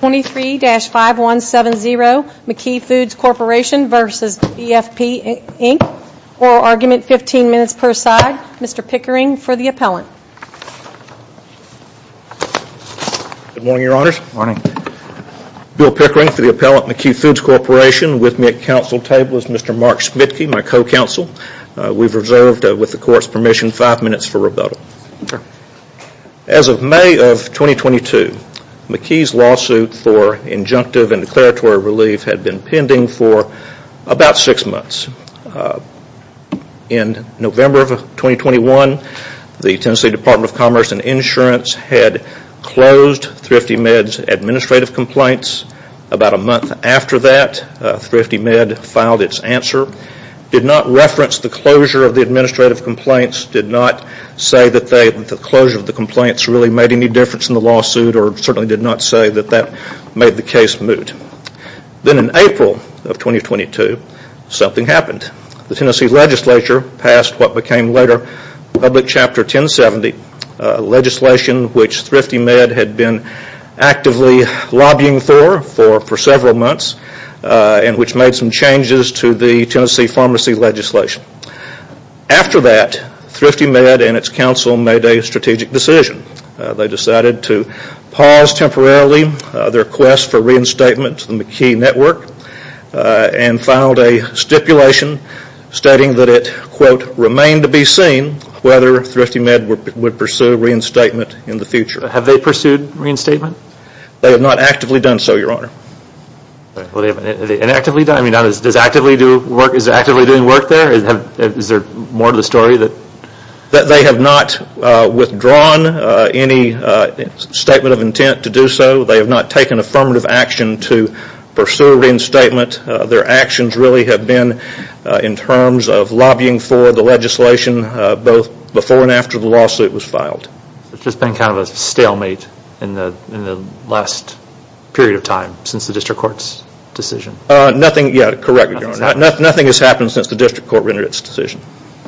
23-5170 McKee Foods Corporation v. BFP Inc. Oral argument, 15 minutes per side. Mr. Pickering for the appellant. Good morning, Your Honors. Bill Pickering for the appellant, McKee Foods Corporation. With me at council table is Mr. Mark Smitkey, my co-counsel. We've reserved, with the court's permission, five minutes for rebuttal. As of May of 2022, McKee's lawsuit for injunctive and declaratory relief had been pending for about six months. In November of 2021, the Tennessee Department of Commerce and Insurance had closed Thrifty Med's administrative complaints. About a month after that, Thrifty Med filed its answer. It did not reference the closure of the administrative complaints, did not say that the closure of the complaints really made any difference in the lawsuit, or certainly did not say that that made the case moot. Then in April of 2022, something happened. The Tennessee legislature passed what became later public chapter 1070, legislation which Thrifty Med had been actively lobbying for for several months and which made some changes to the Tennessee pharmacy legislation. After that, Thrifty Med and its council made a strategic decision. They decided to pause temporarily their quest for reinstatement to the McKee network and filed a stipulation stating that it, quote, remained to be seen whether Thrifty Med would pursue reinstatement in the future. Have they pursued reinstatement? They have not actively done so, Your Honor. Are they actively doing work there? Is there more to the story? They have not withdrawn any statement of intent to do so. They have not taken affirmative action to pursue reinstatement. Their actions really have been in terms of lobbying for the legislation both before and after the lawsuit was filed. It has just been kind of a stalemate in the last period of time since the district court's decision. Nothing has happened since the district court rendered its decision.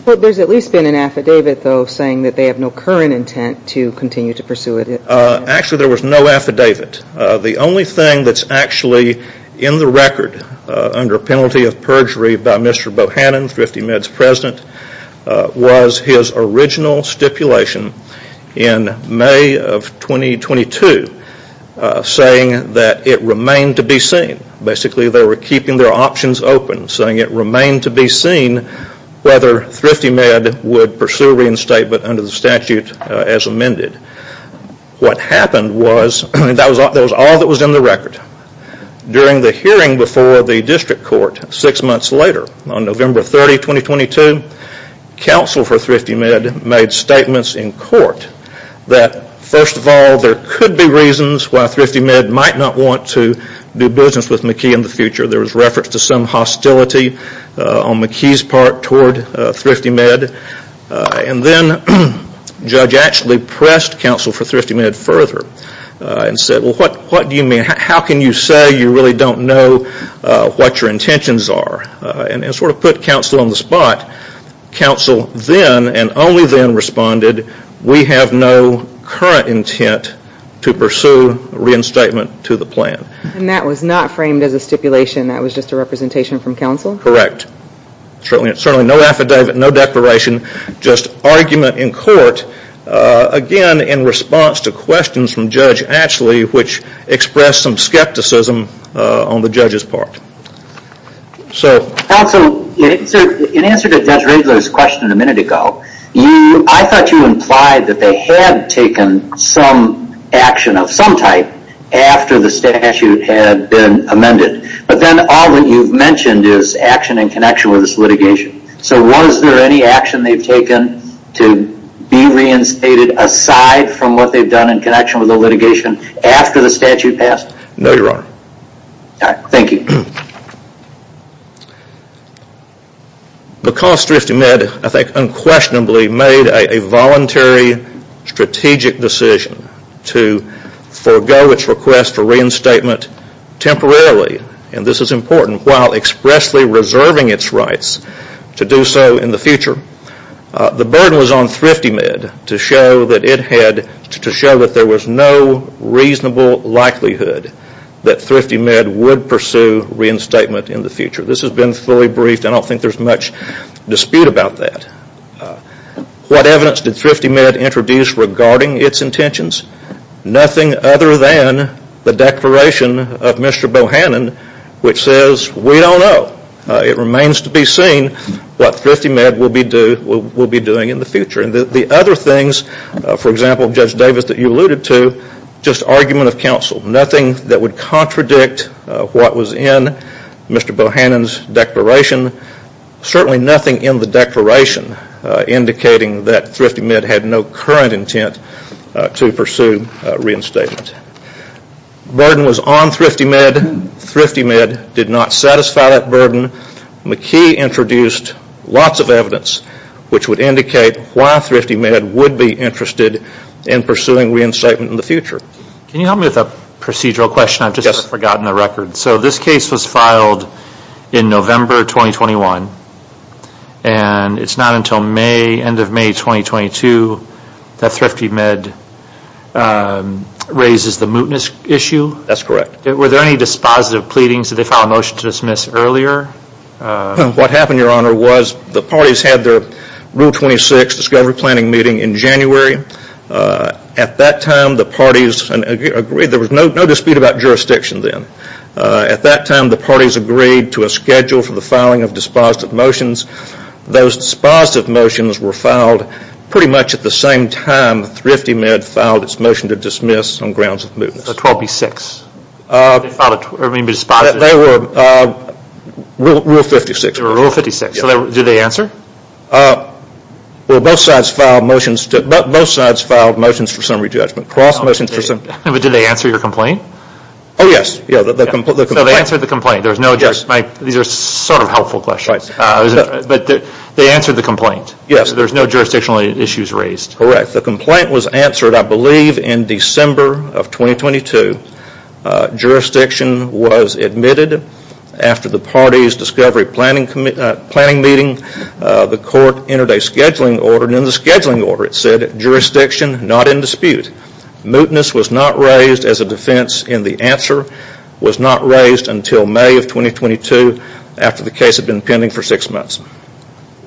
There has at least been an affidavit, though, saying that they have no current intent to continue to pursue it. Actually, there was no affidavit. The only thing that is actually in the record under penalty of perjury by Mr. Bohannon, Thrifty Med's president, was his original stipulation in May of 2022 saying that it remained to be seen. What happened was that was all that was in the record. During the hearing before the district court six months later, on November 30, 2022, counsel for Thrifty Med made statements in court that, first of all, there could be reasons why Thrifty Med might not want to do business with McKee in the future. There was reference to some hostility on McKee's part toward Thrifty Med. Then, Judge actually pressed counsel for Thrifty Med further and said, What do you mean? How can you say you really don't know what your intentions are? To sort of put counsel on the spot, counsel then and only then responded, We have no current intent to pursue reinstatement to the plan. And that was not framed as a stipulation, that was just a representation from counsel? Correct. Certainly no affidavit, no declaration, just argument in court. Again, in response to questions from Judge Ashley, which expressed some skepticism on the judge's part. Counsel, in answer to Judge Regler's question a minute ago, I thought you implied that they had taken some action of some type after the statute had been amended. But then all that you've mentioned is action in connection with this litigation. So was there any action they've taken to be reinstated aside from what they've done in connection with the litigation after the statute passed? No, your honor. Thank you. Because Thrifty Med, I think unquestionably, made a voluntary strategic decision to forego its request for reinstatement temporarily, and this is important, while expressly reserving its rights to do so in the future, the burden was on Thrifty Med to show that there was no reasonable likelihood that Thrifty Med would pursue reinstatement in the future. This has been fully briefed. I don't think there's much dispute about that. What evidence did Thrifty Med introduce regarding its intentions? Nothing other than the declaration of Mr. Bohannon, which says, we don't know. It remains to be seen what Thrifty Med will be doing in the future. The other things, for example, Judge Davis, that you alluded to, just argument of counsel, nothing that would contradict what was in Mr. Bohannon's declaration, certainly nothing in the declaration indicating that Thrifty Med had no current intent to pursue reinstatement. Burden was on Thrifty Med. Thrifty Med did not satisfy that burden. McKee introduced lots of evidence which would indicate why Thrifty Med would be interested in pursuing reinstatement in the future. Can you help me with a procedural question? I've just forgotten the record. So this case was filed in November 2021, and it's not until May, end of May 2022, that Thrifty Med raises the mootness issue? That's correct. Were there any dispositive pleadings? Did they file a motion to dismiss earlier? What happened, Your Honor, was the parties had their Rule 26 discovery planning meeting in January. At that time, the parties agreed. There was no dispute about jurisdiction then. At that time, the parties agreed to a schedule for the filing of dispositive motions. Those dispositive motions were filed pretty much at the same time Thrifty Med filed its motion to dismiss on grounds of mootness. Rule 56. Did they answer? Both sides filed motions for summary judgment. But did they answer your complaint? Oh, yes. So they answered the complaint. These are sort of helpful questions. But they answered the complaint. Yes. There's no jurisdictional issues raised. Correct. The complaint was answered, I believe, in December of 2022. Jurisdiction was admitted. After the parties' discovery planning meeting, the court entered a scheduling order. And in the scheduling order, it said jurisdiction not in dispute. Mootness was not raised as a defense. And the answer was not raised until May of 2022 after the case had been pending for six months.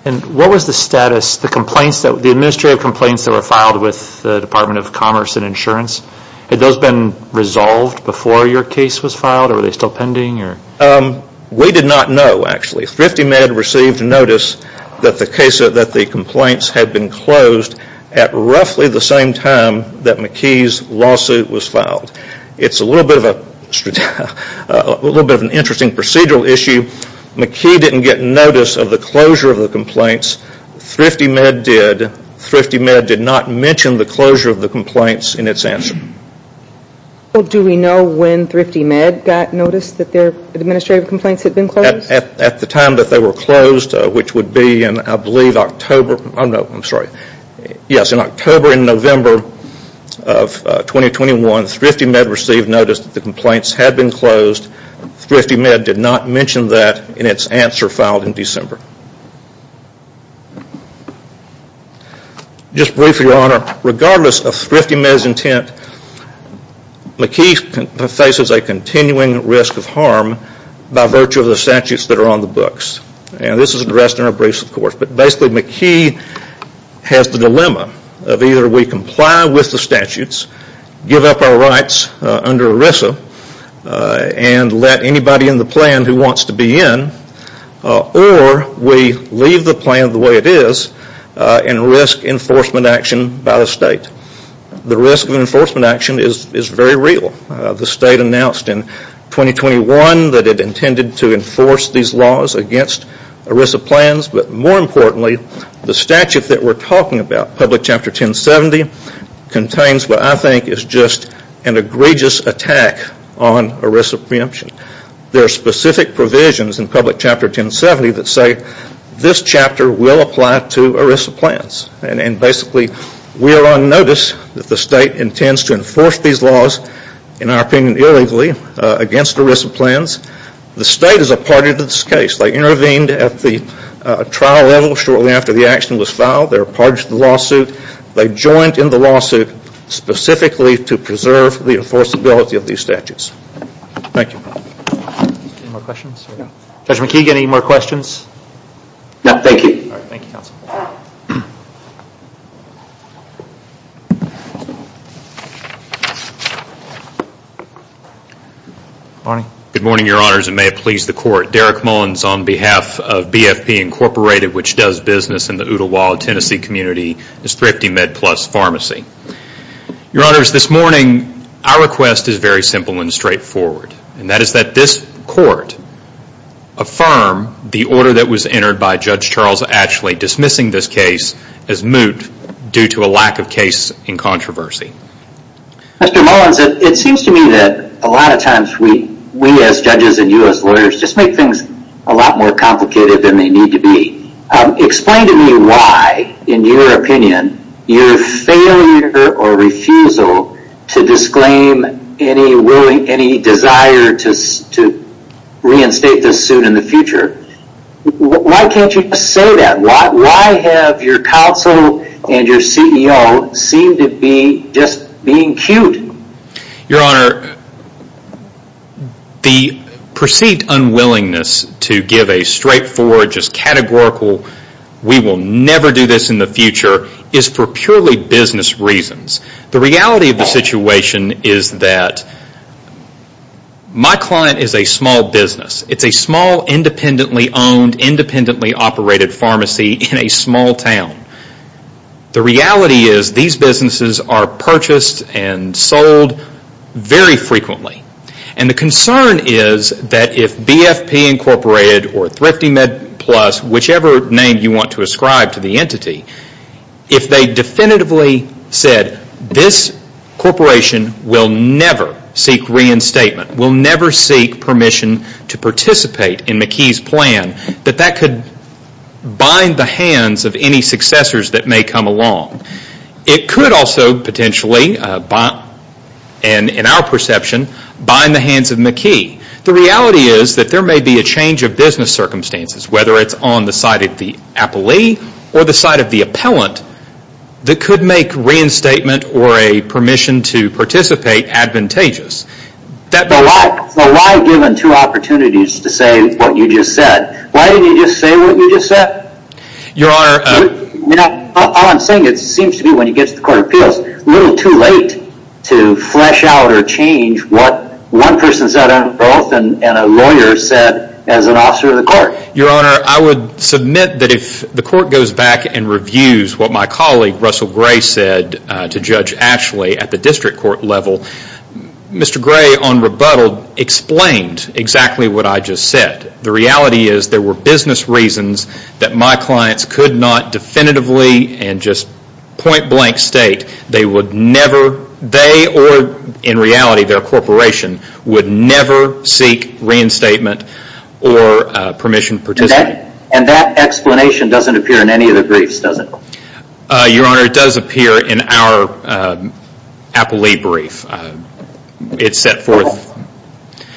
And what was the status, the administrative complaints that were filed with the Department of Commerce and Insurance? Had those been resolved before your case was filed? Or were they still pending? We did not know, actually. Thrifty Med received notice that the complaints had been closed at roughly the same time that McKee's lawsuit was filed. It's a little bit of an interesting procedural issue. McKee didn't get notice of the closure of the complaints. Thrifty Med did. Thrifty Med did not mention the closure of the complaints in its answer. Well, do we know when Thrifty Med got notice that their administrative complaints had been closed? At the time that they were closed, which would be in, I believe, October. Oh, no, I'm sorry. Yes, in October and November of 2021, Thrifty Med received notice that the complaints had been closed. Thrifty Med did not mention that in its answer filed in December. Just briefly, Your Honor, regardless of Thrifty Med's intent, McKee faces a continuing risk of harm by virtue of the statutes that are on the books. And this is addressed in our briefs, of course. But basically, McKee has the dilemma of either we comply with the statutes, give up our rights under ERISA, and let anybody in the plan who wants to be in, or we leave the plan the way it is and risk enforcement action by the state. The risk of enforcement action is very real. The state announced in 2021 that it intended to enforce these laws against ERISA plans, but more importantly, the statute that we're talking about, Public Chapter 1070, contains what I think is just an egregious attack on ERISA preemption. There are specific provisions in Public Chapter 1070 that say this chapter will apply to ERISA plans. And basically, we are on notice that the state intends to enforce these laws, in our opinion, illegally against ERISA plans. The state is a party to this case. They intervened at the trial level shortly after the action was filed. They're a party to the lawsuit. They joined in the lawsuit specifically to preserve the enforceability of these statutes. Thank you. Any more questions? Judge McKee, any more questions? No, thank you. Thank you, Counsel. Good morning, Your Honors, and may it please the Court. Derek Mullins on behalf of BFP Incorporated, which does business in the Oodlewild, Tennessee community, is Thrifty Med Plus Pharmacy. Your Honors, this morning, our request is very simple and straightforward. And that is that this Court affirm the order that was entered by Judge Charles Ashley dismissing this case as moot due to a lack of case in controversy. Mr. Mullins, it seems to me that a lot of times we, as judges and you as lawyers, just make things a lot more complicated than they need to be. Explain to me why, in your opinion, your failure or refusal to disclaim any desire to reinstate this suit in the future. Why can't you just say that? Why have your counsel and your CEO seem to be just being cute? Your Honor, the perceived unwillingness to give a straightforward, just categorical, we will never do this in the future is for purely business reasons. The reality of the situation is that my client is a small business. It's a small, independently owned, independently operated pharmacy in a small town. The reality is these businesses are purchased and sold very frequently. And the concern is that if BFP Incorporated or Thrifty Med Plus, whichever name you want to ascribe to the entity, if they definitively said this corporation will never seek reinstatement, will never seek permission to participate in McKee's plan, that that could bind the hands of any successors that may come along. It could also potentially, in our perception, bind the hands of McKee. The reality is that there may be a change of business circumstances, whether it's on the side of the appellee or the side of the appellant, that could make reinstatement or a permission to participate advantageous. So why give him two opportunities to say what you just said? Why didn't you just say what you just said? Your Honor... All I'm saying is it seems to me when he gets to the court of appeals, it's a little too late to flesh out or change what one person said on both and a lawyer said as an officer of the court. Your Honor, I would submit that if the court goes back and reviews what my colleague, Russell Gray, said to Judge Ashley at the district court level, Mr. Gray, on rebuttal, explained exactly what I just said. The reality is there were business reasons that my clients could not definitively and just point blank state they would never, they or in reality their corporation, would never seek reinstatement or permission to participate. And that explanation doesn't appear in any of the briefs, does it? Your Honor, it does appear in our appellee brief. It's set forth...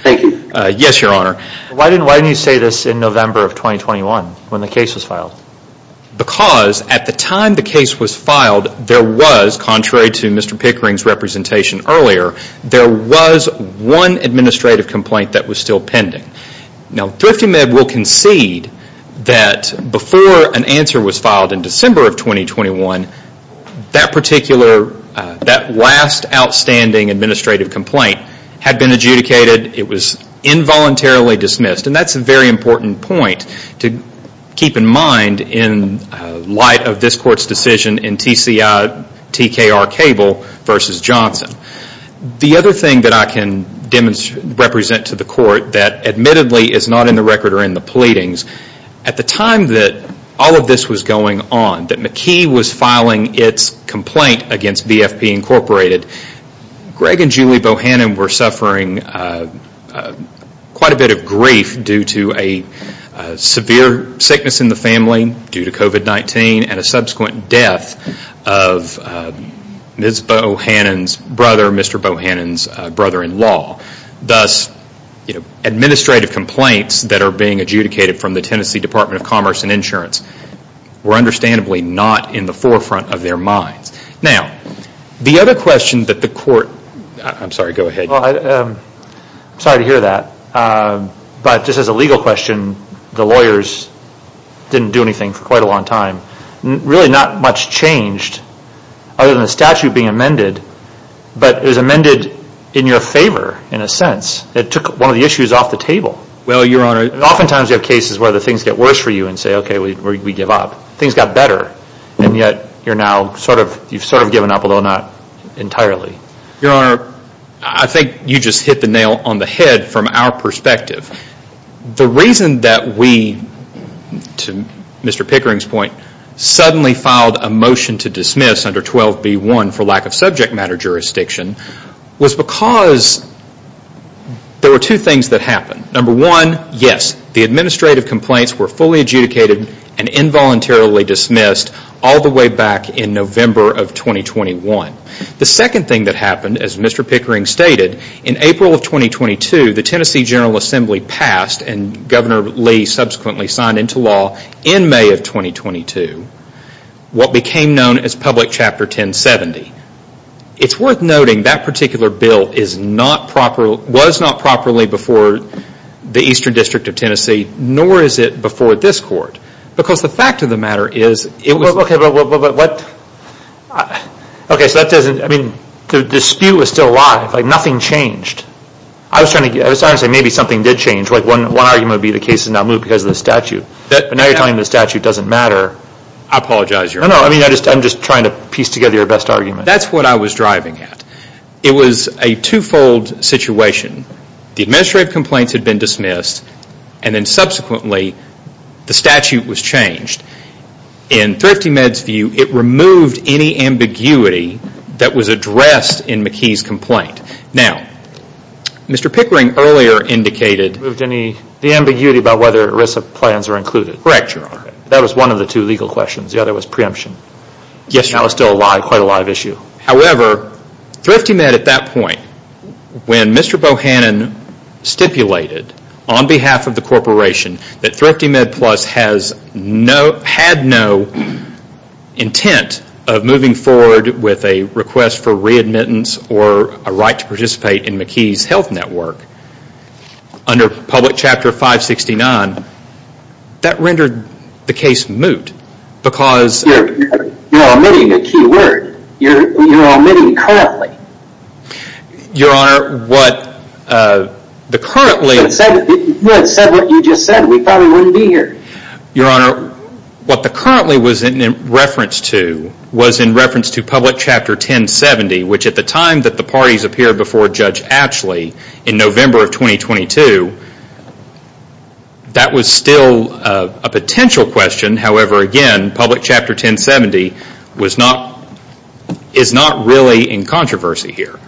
Thank you. Yes, Your Honor. Why didn't you say this in November of 2021 when the case was filed? Because at the time the case was filed, there was, contrary to Mr. Pickering's representation earlier, there was one administrative complaint that was still pending. Now, ThriftyMed will concede that before an answer was filed in December of 2021, that particular, that last outstanding administrative complaint had been adjudicated. It was involuntarily dismissed. And that's a very important point to keep in mind in light of this court's decision in TKR Cable v. Johnson. The other thing that I can represent to the court that admittedly is not in the record or in the pleadings, at the time that all of this was going on, that McKee was filing its complaint against BFP Incorporated, Greg and Julie Bohannon were suffering quite a bit of grief due to a severe sickness in the family due to COVID-19 and a subsequent death of Ms. Bohannon's brother, Mr. Bohannon's brother-in-law. Thus, administrative complaints that are being adjudicated from the Tennessee Department of Commerce and Insurance were understandably not in the forefront of their minds. Now, the other question that the court, I'm sorry, go ahead. Well, I'm sorry to hear that. But just as a legal question, the lawyers didn't do anything for quite a long time. Really not much changed other than the statute being amended, but it was amended in your favor in a sense. It took one of the issues off the table. Well, Your Honor. Oftentimes you have cases where the things get worse for you and say, okay, we give up. Things got better, and yet you're now sort of, you've sort of given up, although not entirely. Your Honor, I think you just hit the nail on the head from our perspective. The reason that we, to Mr. Pickering's point, suddenly filed a motion to dismiss under 12B1 for lack of subject matter jurisdiction was because there were two things that happened. Number one, yes, the administrative complaints were fully adjudicated and involuntarily dismissed all the way back in November of 2021. The second thing that happened, as Mr. Pickering stated, in April of 2022, the Tennessee General Assembly passed, and Governor Lee subsequently signed into law in May of 2022, what became known as Public Chapter 1070. It's worth noting that particular bill is not proper, was not properly before the Eastern District of Tennessee, nor is it before this Court, because the fact of the matter is, Okay, but what, okay, so that doesn't, I mean, the dispute was still alive, like nothing changed. I was trying to say maybe something did change, like one argument would be the case is not moved because of the statute. But now you're telling me the statute doesn't matter. I apologize, Your Honor. No, no, I mean, I'm just trying to piece together your best argument. That's what I was driving at. It was a two-fold situation. The administrative complaints had been dismissed, and then subsequently the statute was changed. In ThriftyMed's view, it removed any ambiguity that was addressed in McKee's complaint. Now, Mr. Pickering earlier indicated Removed any, the ambiguity about whether ERISA plans are included. Correct, Your Honor. That was one of the two legal questions. The other was preemption. Yes, Your Honor. That was still alive, quite a live issue. However, ThriftyMed at that point, when Mr. Bohannon stipulated on behalf of the corporation that ThriftyMed Plus had no intent of moving forward with a request for readmittance or a right to participate in McKee's health network under Public Chapter 569, that rendered the case moot because You're omitting a key word. You're omitting currently. Your Honor, what the currently You would have said what you just said. We probably wouldn't be here. Your Honor, what the currently was in reference to was in reference to Public Chapter 1070, which at the time that the parties appeared before Judge Atchley in November of 2022, that was still a potential question. However, again, Public Chapter 1070 is not really in controversy here.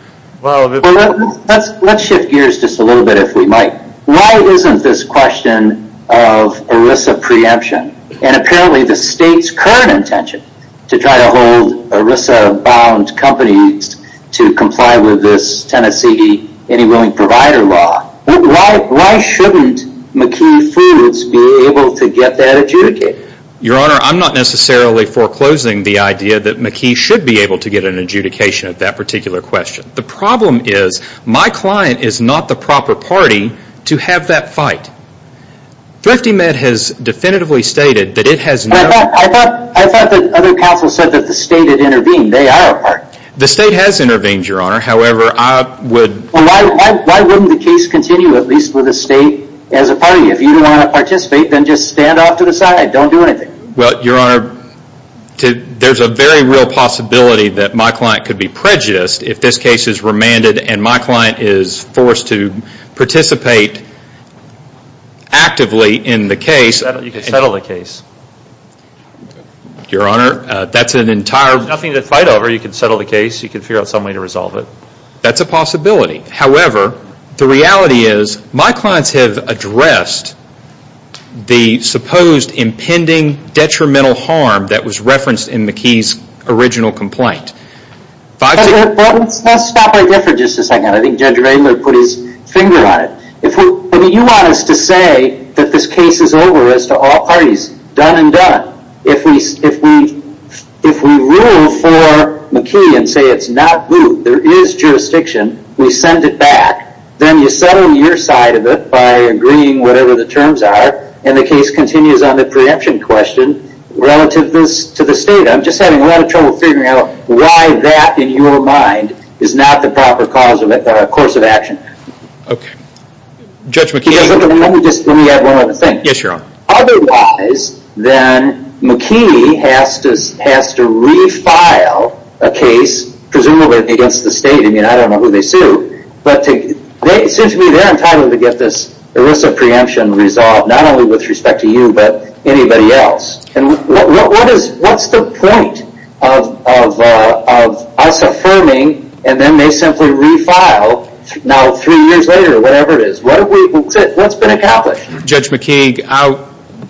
Let's shift gears just a little bit if we might. Why isn't this question of ERISA preemption and apparently the state's current intention to try to hold ERISA-bound companies to comply with this Tennessee Any Willing Provider law, why shouldn't McKee Foods be able to get that adjudicated? Your Honor, I'm not necessarily foreclosing the idea that McKee should be able to get an adjudication at that particular question. The problem is my client is not the proper party to have that fight. ThriftyMed has definitively stated that it has no... I thought the other counsel said that the state had intervened. They are a party. The state has intervened, Your Honor. However, I would... Well, why wouldn't the case continue, at least with the state as a party? If you don't want to participate, then just stand off to the side. Don't do anything. Well, Your Honor, there's a very real possibility that my client could be prejudiced if this case is remanded and my client is forced to participate actively in the case. You can settle the case. Your Honor, that's an entire... There's nothing to fight over. You can settle the case. You can figure out some way to resolve it. That's a possibility. However, the reality is my clients have addressed the supposed impending detrimental harm that was referenced in McKee's original complaint. Let's stop right there for just a second. I think Judge Ringler put his finger on it. I mean, you want us to say that this case is over as to all parties, done and done. If we rule for McKee and say it's not blue, there is jurisdiction, we send it back. Then you settle your side of it by agreeing whatever the terms are and the case continues on the preemption question relative to the state. I'm just having a lot of trouble figuring out why that, in your mind, is not the proper cause of course of action. Okay. Judge McKee... Let me add one other thing. Yes, Your Honor. Otherwise, then McKee has to refile a case, presumably against the state. I mean, I don't know who they sue, but it seems to me they're entitled to get this ERISA preemption resolved, not only with respect to you but anybody else. What's the point of us affirming and then they simply refile now three years later or whatever it is? What's been accomplished? Judge McKee,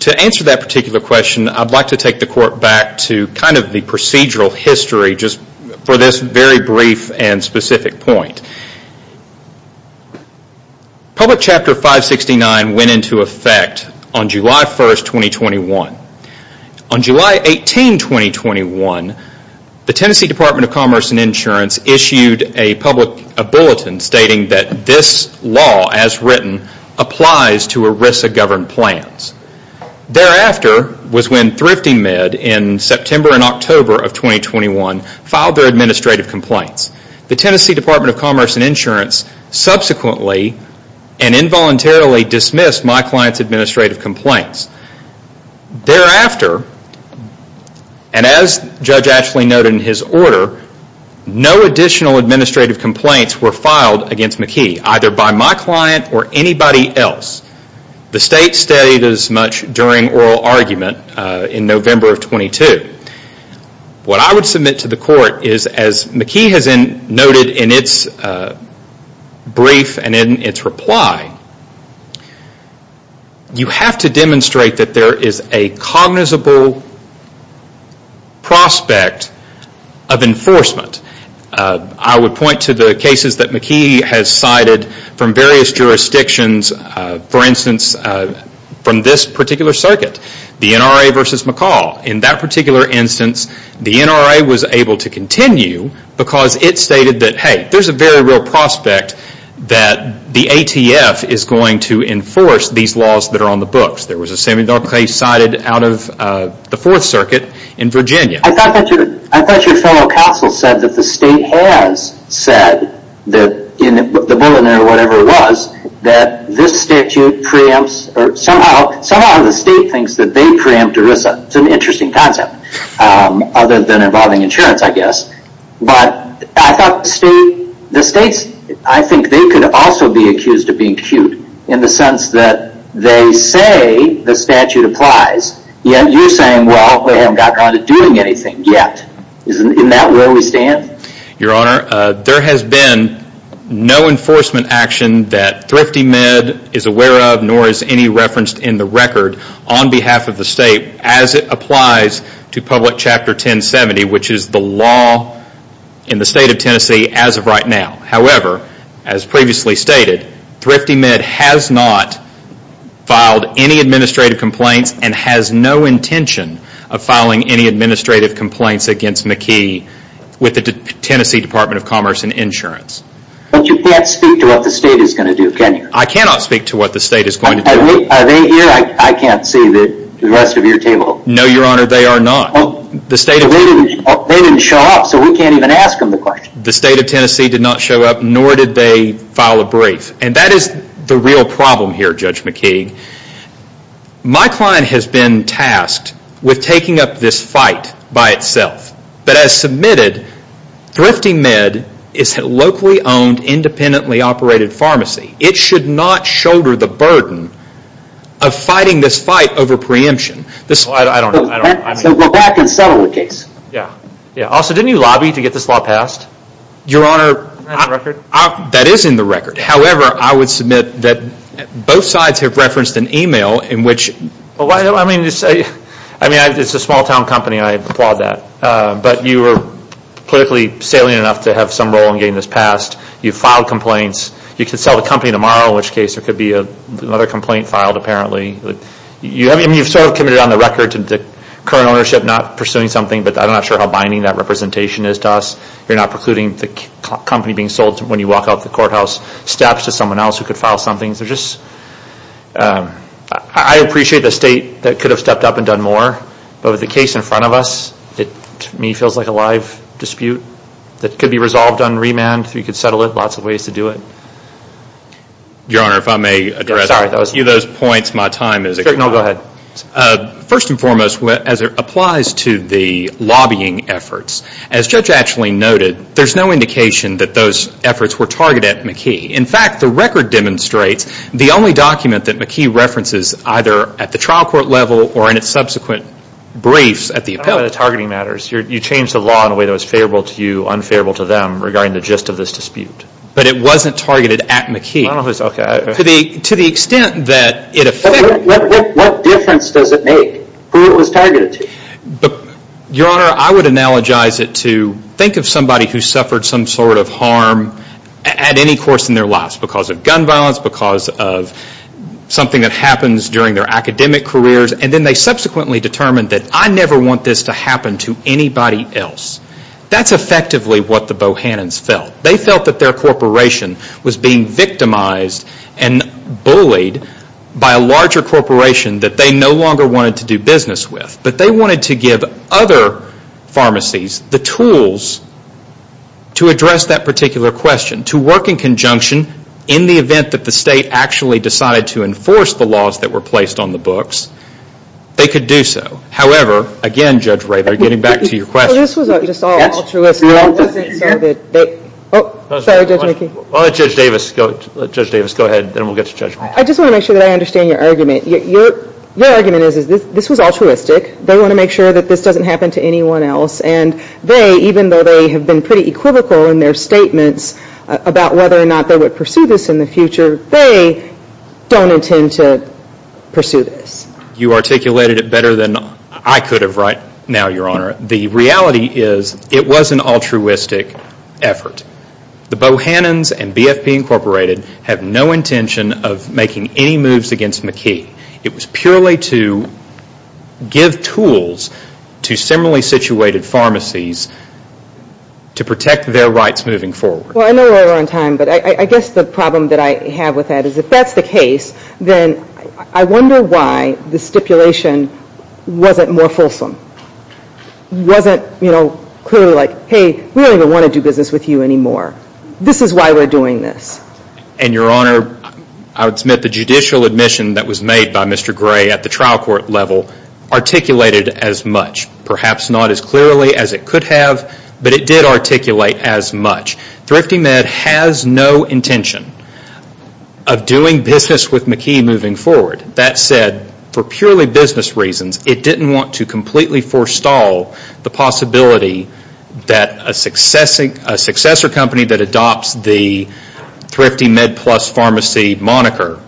to answer that particular question, I'd like to take the court back to kind of the procedural history just for this very brief and specific point. Public Chapter 569 went into effect on July 1, 2021. On July 18, 2021, the Tennessee Department of Commerce and Insurance issued a public bulletin stating that this law, as written, applies to ERISA-governed plans. Thereafter was when ThriftyMed in September and October of 2021 filed their administrative complaints. The Tennessee Department of Commerce and Insurance subsequently and involuntarily dismissed my client's administrative complaints. Thereafter, and as Judge Ashley noted in his order, no additional administrative complaints were filed against McKee, either by my client or anybody else. The state stayed as much during oral argument in November of 22. What I would submit to the court is, as McKee has noted in its brief and in its reply, you have to demonstrate that there is a cognizable prospect of enforcement. I would point to the cases that McKee has cited from various jurisdictions. For instance, from this particular circuit, the NRA versus McCall. In that particular instance, the NRA was able to continue because it stated that, hey, there's a very real prospect that the ATF is going to enforce these laws that are on the books. There was a similar case cited out of the Fourth Circuit in Virginia. I thought your fellow counsel said that the state has said, in the bulletin or whatever it was, that this statute preempts, somehow the state thinks that they preempt ERISA. It's an interesting concept, other than involving insurance, I guess. I thought the states, I think they could also be accused of being cute in the sense that they say the statute applies, yet you're saying, well, they haven't gotten around to doing anything yet. Isn't that where we stand? Your Honor, there has been no enforcement action that ThriftyMed is aware of, nor is any referenced in the record on behalf of the state, as it applies to Public Chapter 1070, which is the law in the state of Tennessee as of right now. However, as previously stated, ThriftyMed has not filed any administrative complaints and has no intention of filing any administrative complaints against McKee with the Tennessee Department of Commerce and Insurance. But you can't speak to what the state is going to do, can you? I cannot speak to what the state is going to do. Are they here? I can't see the rest of your table. No, Your Honor, they are not. They didn't show up, so we can't even ask them the question. The state of Tennessee did not show up, nor did they file a brief. And that is the real problem here, Judge McKee. My client has been tasked with taking up this fight by itself. But as submitted, ThriftyMed is a locally owned, independently operated pharmacy. It should not shoulder the burden of fighting this fight over preemption. So go back and settle the case. Also, didn't you lobby to get this law passed? Your Honor, that is in the record. However, I would submit that both sides have referenced an email in which... I mean, it's a small town company, and I applaud that. But you were politically salient enough to have some role in getting this passed. You filed complaints. You can sell the company tomorrow, in which case there could be another complaint filed, apparently. I mean, you've sort of committed on the record to the current ownership not pursuing something, but I'm not sure how binding that representation is to us. You're not precluding the company being sold when you walk out the courthouse. Staps to someone else who could file something. They're just... I appreciate the state that could have stepped up and done more. But with the case in front of us, it, to me, feels like a live dispute that could be resolved on remand. We could settle it. Lots of ways to do it. Your Honor, if I may address... Go ahead. First and foremost, as it applies to the lobbying efforts, as Judge Ashley noted, there's no indication that those efforts were targeted at McKee. In fact, the record demonstrates the only document that McKee references either at the trial court level or in its subsequent briefs at the appellate... I don't know about the targeting matters. You changed the law in a way that was favorable to you, unfavorable to them, regarding the gist of this dispute. But it wasn't targeted at McKee. To the extent that it affected... What difference does it make who it was targeted to? Your Honor, I would analogize it to think of somebody who suffered some sort of harm at any course in their lives, because of gun violence, because of something that happens during their academic careers, and then they subsequently determined that I never want this to happen to anybody else. That's effectively what the Bohannans felt. They felt that their corporation was being victimized and bullied by a larger corporation that they no longer wanted to do business with. But they wanted to give other pharmacies the tools to address that particular question, to work in conjunction in the event that the state actually decided to enforce the laws that were placed on the books, they could do so. However, again, Judge Ray, getting back to your question... Sorry, Judge McKee. Let Judge Davis go ahead, then we'll get to Judge McKee. I just want to make sure that I understand your argument. Your argument is this was altruistic. They want to make sure that this doesn't happen to anyone else, and they, even though they have been pretty equivocal in their statements about whether or not they would pursue this in the future, they don't intend to pursue this. You articulated it better than I could have right now, Your Honor. The reality is it was an altruistic effort. The Bohannans and BFP Incorporated have no intention of making any moves against McKee. It was purely to give tools to similarly situated pharmacies to protect their rights moving forward. Well, I know we're out of time, but I guess the problem that I have with that is if that's the case, then I wonder why the stipulation wasn't more fulsome. It wasn't clearly like, hey, we don't even want to do business with you anymore. This is why we're doing this. And, Your Honor, I would submit the judicial admission that was made by Mr. Gray at the trial court level articulated as much. Perhaps not as clearly as it could have, but it did articulate as much. ThriftyMed has no intention of doing business with McKee moving forward. That said, for purely business reasons, it didn't want to completely forestall the possibility that a successor company that adopts the ThriftyMed Plus Pharmacy moniker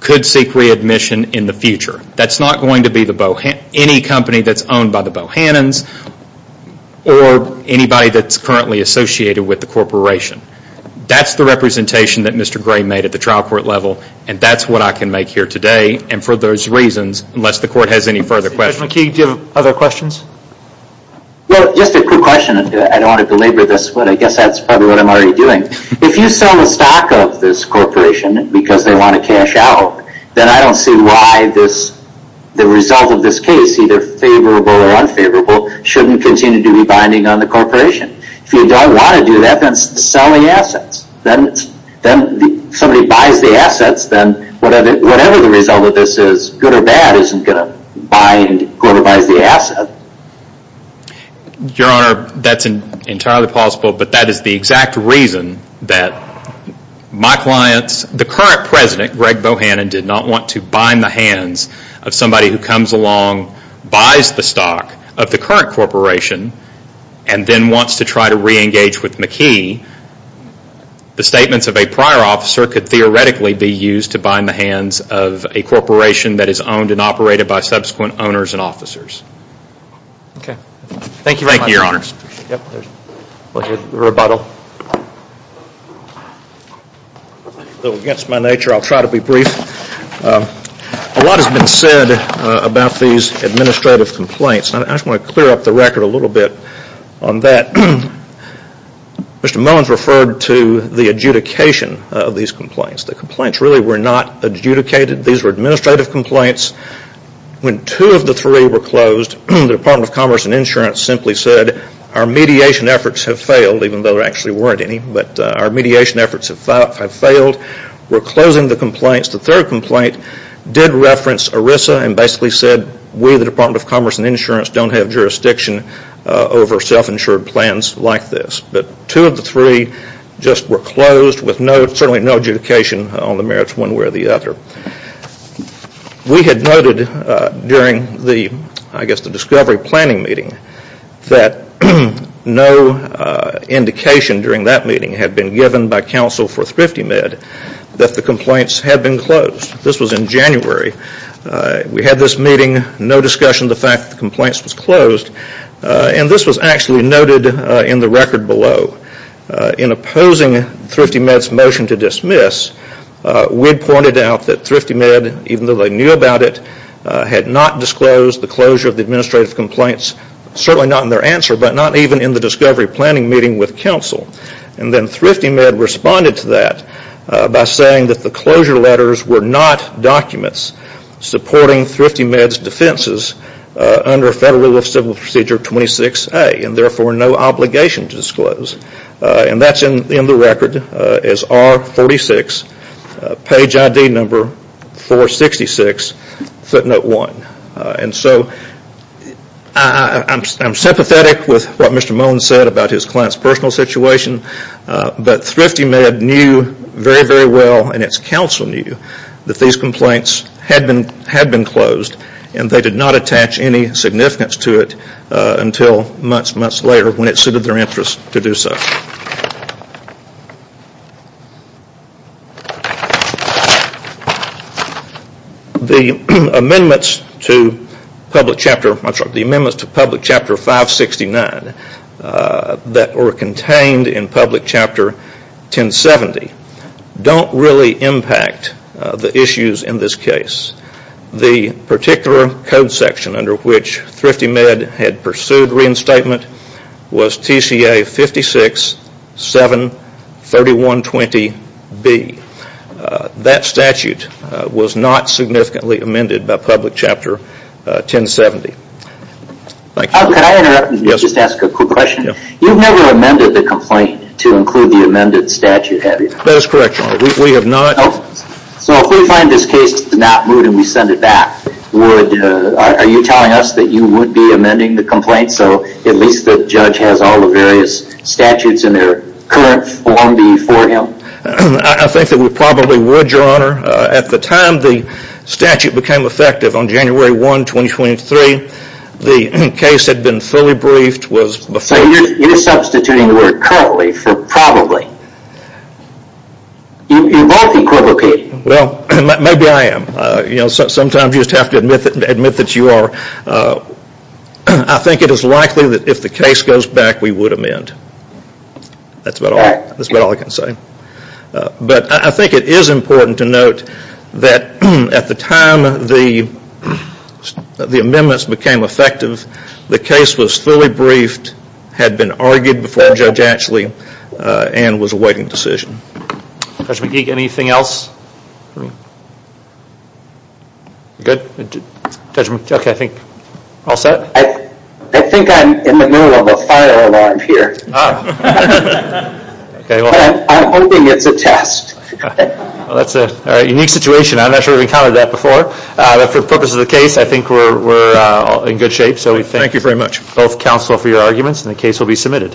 could seek readmission in the future. That's not going to be any company that's owned by the Bohannans or anybody that's currently associated with the corporation. That's the representation that Mr. Gray made at the trial court level, and that's what I can make here today. And for those reasons, unless the court has any further questions... Mr. McKee, do you have other questions? Well, just a quick question. I don't want to belabor this, but I guess that's probably what I'm already doing. If you sell the stock of this corporation because they want to cash out, then I don't see why the result of this case, either favorable or unfavorable, shouldn't continue to be binding on the corporation. If you don't want to do that, then it's selling assets. Then somebody buys the assets, then whatever the result of this is, good or bad, isn't going to bind, corroborize the asset. Your Honor, that's entirely possible, but that is the exact reason that my clients, the current president, Greg Bohannon, did not want to bind the hands of somebody who comes along, buys the stock of the current corporation, and then wants to try to re-engage with McKee. The statements of a prior officer could theoretically be used to bind the hands of a corporation that is owned and operated by subsequent owners and officers. Thank you very much. We'll hear the rebuttal. A little against my nature, I'll try to be brief. A lot has been said about these administrative complaints. I just want to clear up the record a little bit on that. Mr. Mullins referred to the adjudication of these complaints. The complaints really were not adjudicated. These were administrative complaints. When two of the three were closed, the Department of Commerce and Insurance simply said, our mediation efforts have failed, even though there actually weren't any, but our mediation efforts have failed. We're closing the complaints. The third complaint did reference ERISA and basically said we, the Department of Commerce and Insurance, don't have jurisdiction over self-insured plans like this. But two of the three just were closed with certainly no adjudication on the merits one way or the other. We had noted during the discovery planning meeting that no indication during that meeting had been given by counsel for ThriftyMed that the complaints had been closed. This was in January. We had this meeting, no discussion of the fact that the complaints was closed, and this was actually noted in the record below. In opposing ThriftyMed's motion to dismiss, we had pointed out that ThriftyMed, even though they knew about it, had not disclosed the closure of the administrative complaints, certainly not in their answer, but not even in the discovery planning meeting with counsel. And then ThriftyMed responded to that by saying that the closure letters were not documents supporting ThriftyMed's defenses under Federal Rule of Civil Procedure 26A and therefore no obligation to disclose. And that's in the record as R46, page ID number 466, footnote 1. And so I'm sympathetic with what Mr. Moen said about his client's personal situation, but ThriftyMed knew very, very well, and its counsel knew, that these complaints had been closed and they did not attach any significance to it until months, months later when it suited their interest to do so. The amendments to Public Chapter 569 that were contained in Public Chapter 1070 don't really impact the issues in this case. The particular code section under which ThriftyMed had pursued reinstatement was TCA 56-7-3120B. That statute was not significantly amended by Public Chapter 1070. Thank you. Can I interrupt and just ask a quick question? You've never amended the complaint to include the amended statute, have you? That is correct, Your Honor. We have not. So if we find this case does not move and we send it back, are you telling us that you would be amending the complaint so at least the judge has all the various statutes in their current form before him? I think that we probably would, Your Honor. At the time the statute became effective on January 1, 2023, the case had been fully briefed. So you're substituting the word currently for probably. You're both equivocating. Well, maybe I am. Sometimes you just have to admit that you are. I think it is likely that if the case goes back, we would amend. That's about all I can say. But I think it is important to note that at the time the amendments became effective, the case was fully briefed, had been argued before Judge Ashley, and was awaiting decision. Judge McGeek, anything else? Good? Judge McGeek, I think, all set? I think I'm in the middle of a fire alarm here. Ah. I'm hoping it's a test. Well, that's a unique situation. I'm not sure we've encountered that before. But for the purpose of the case, I think we're in good shape. So we thank both counsel for your arguments, and the case will be submitted.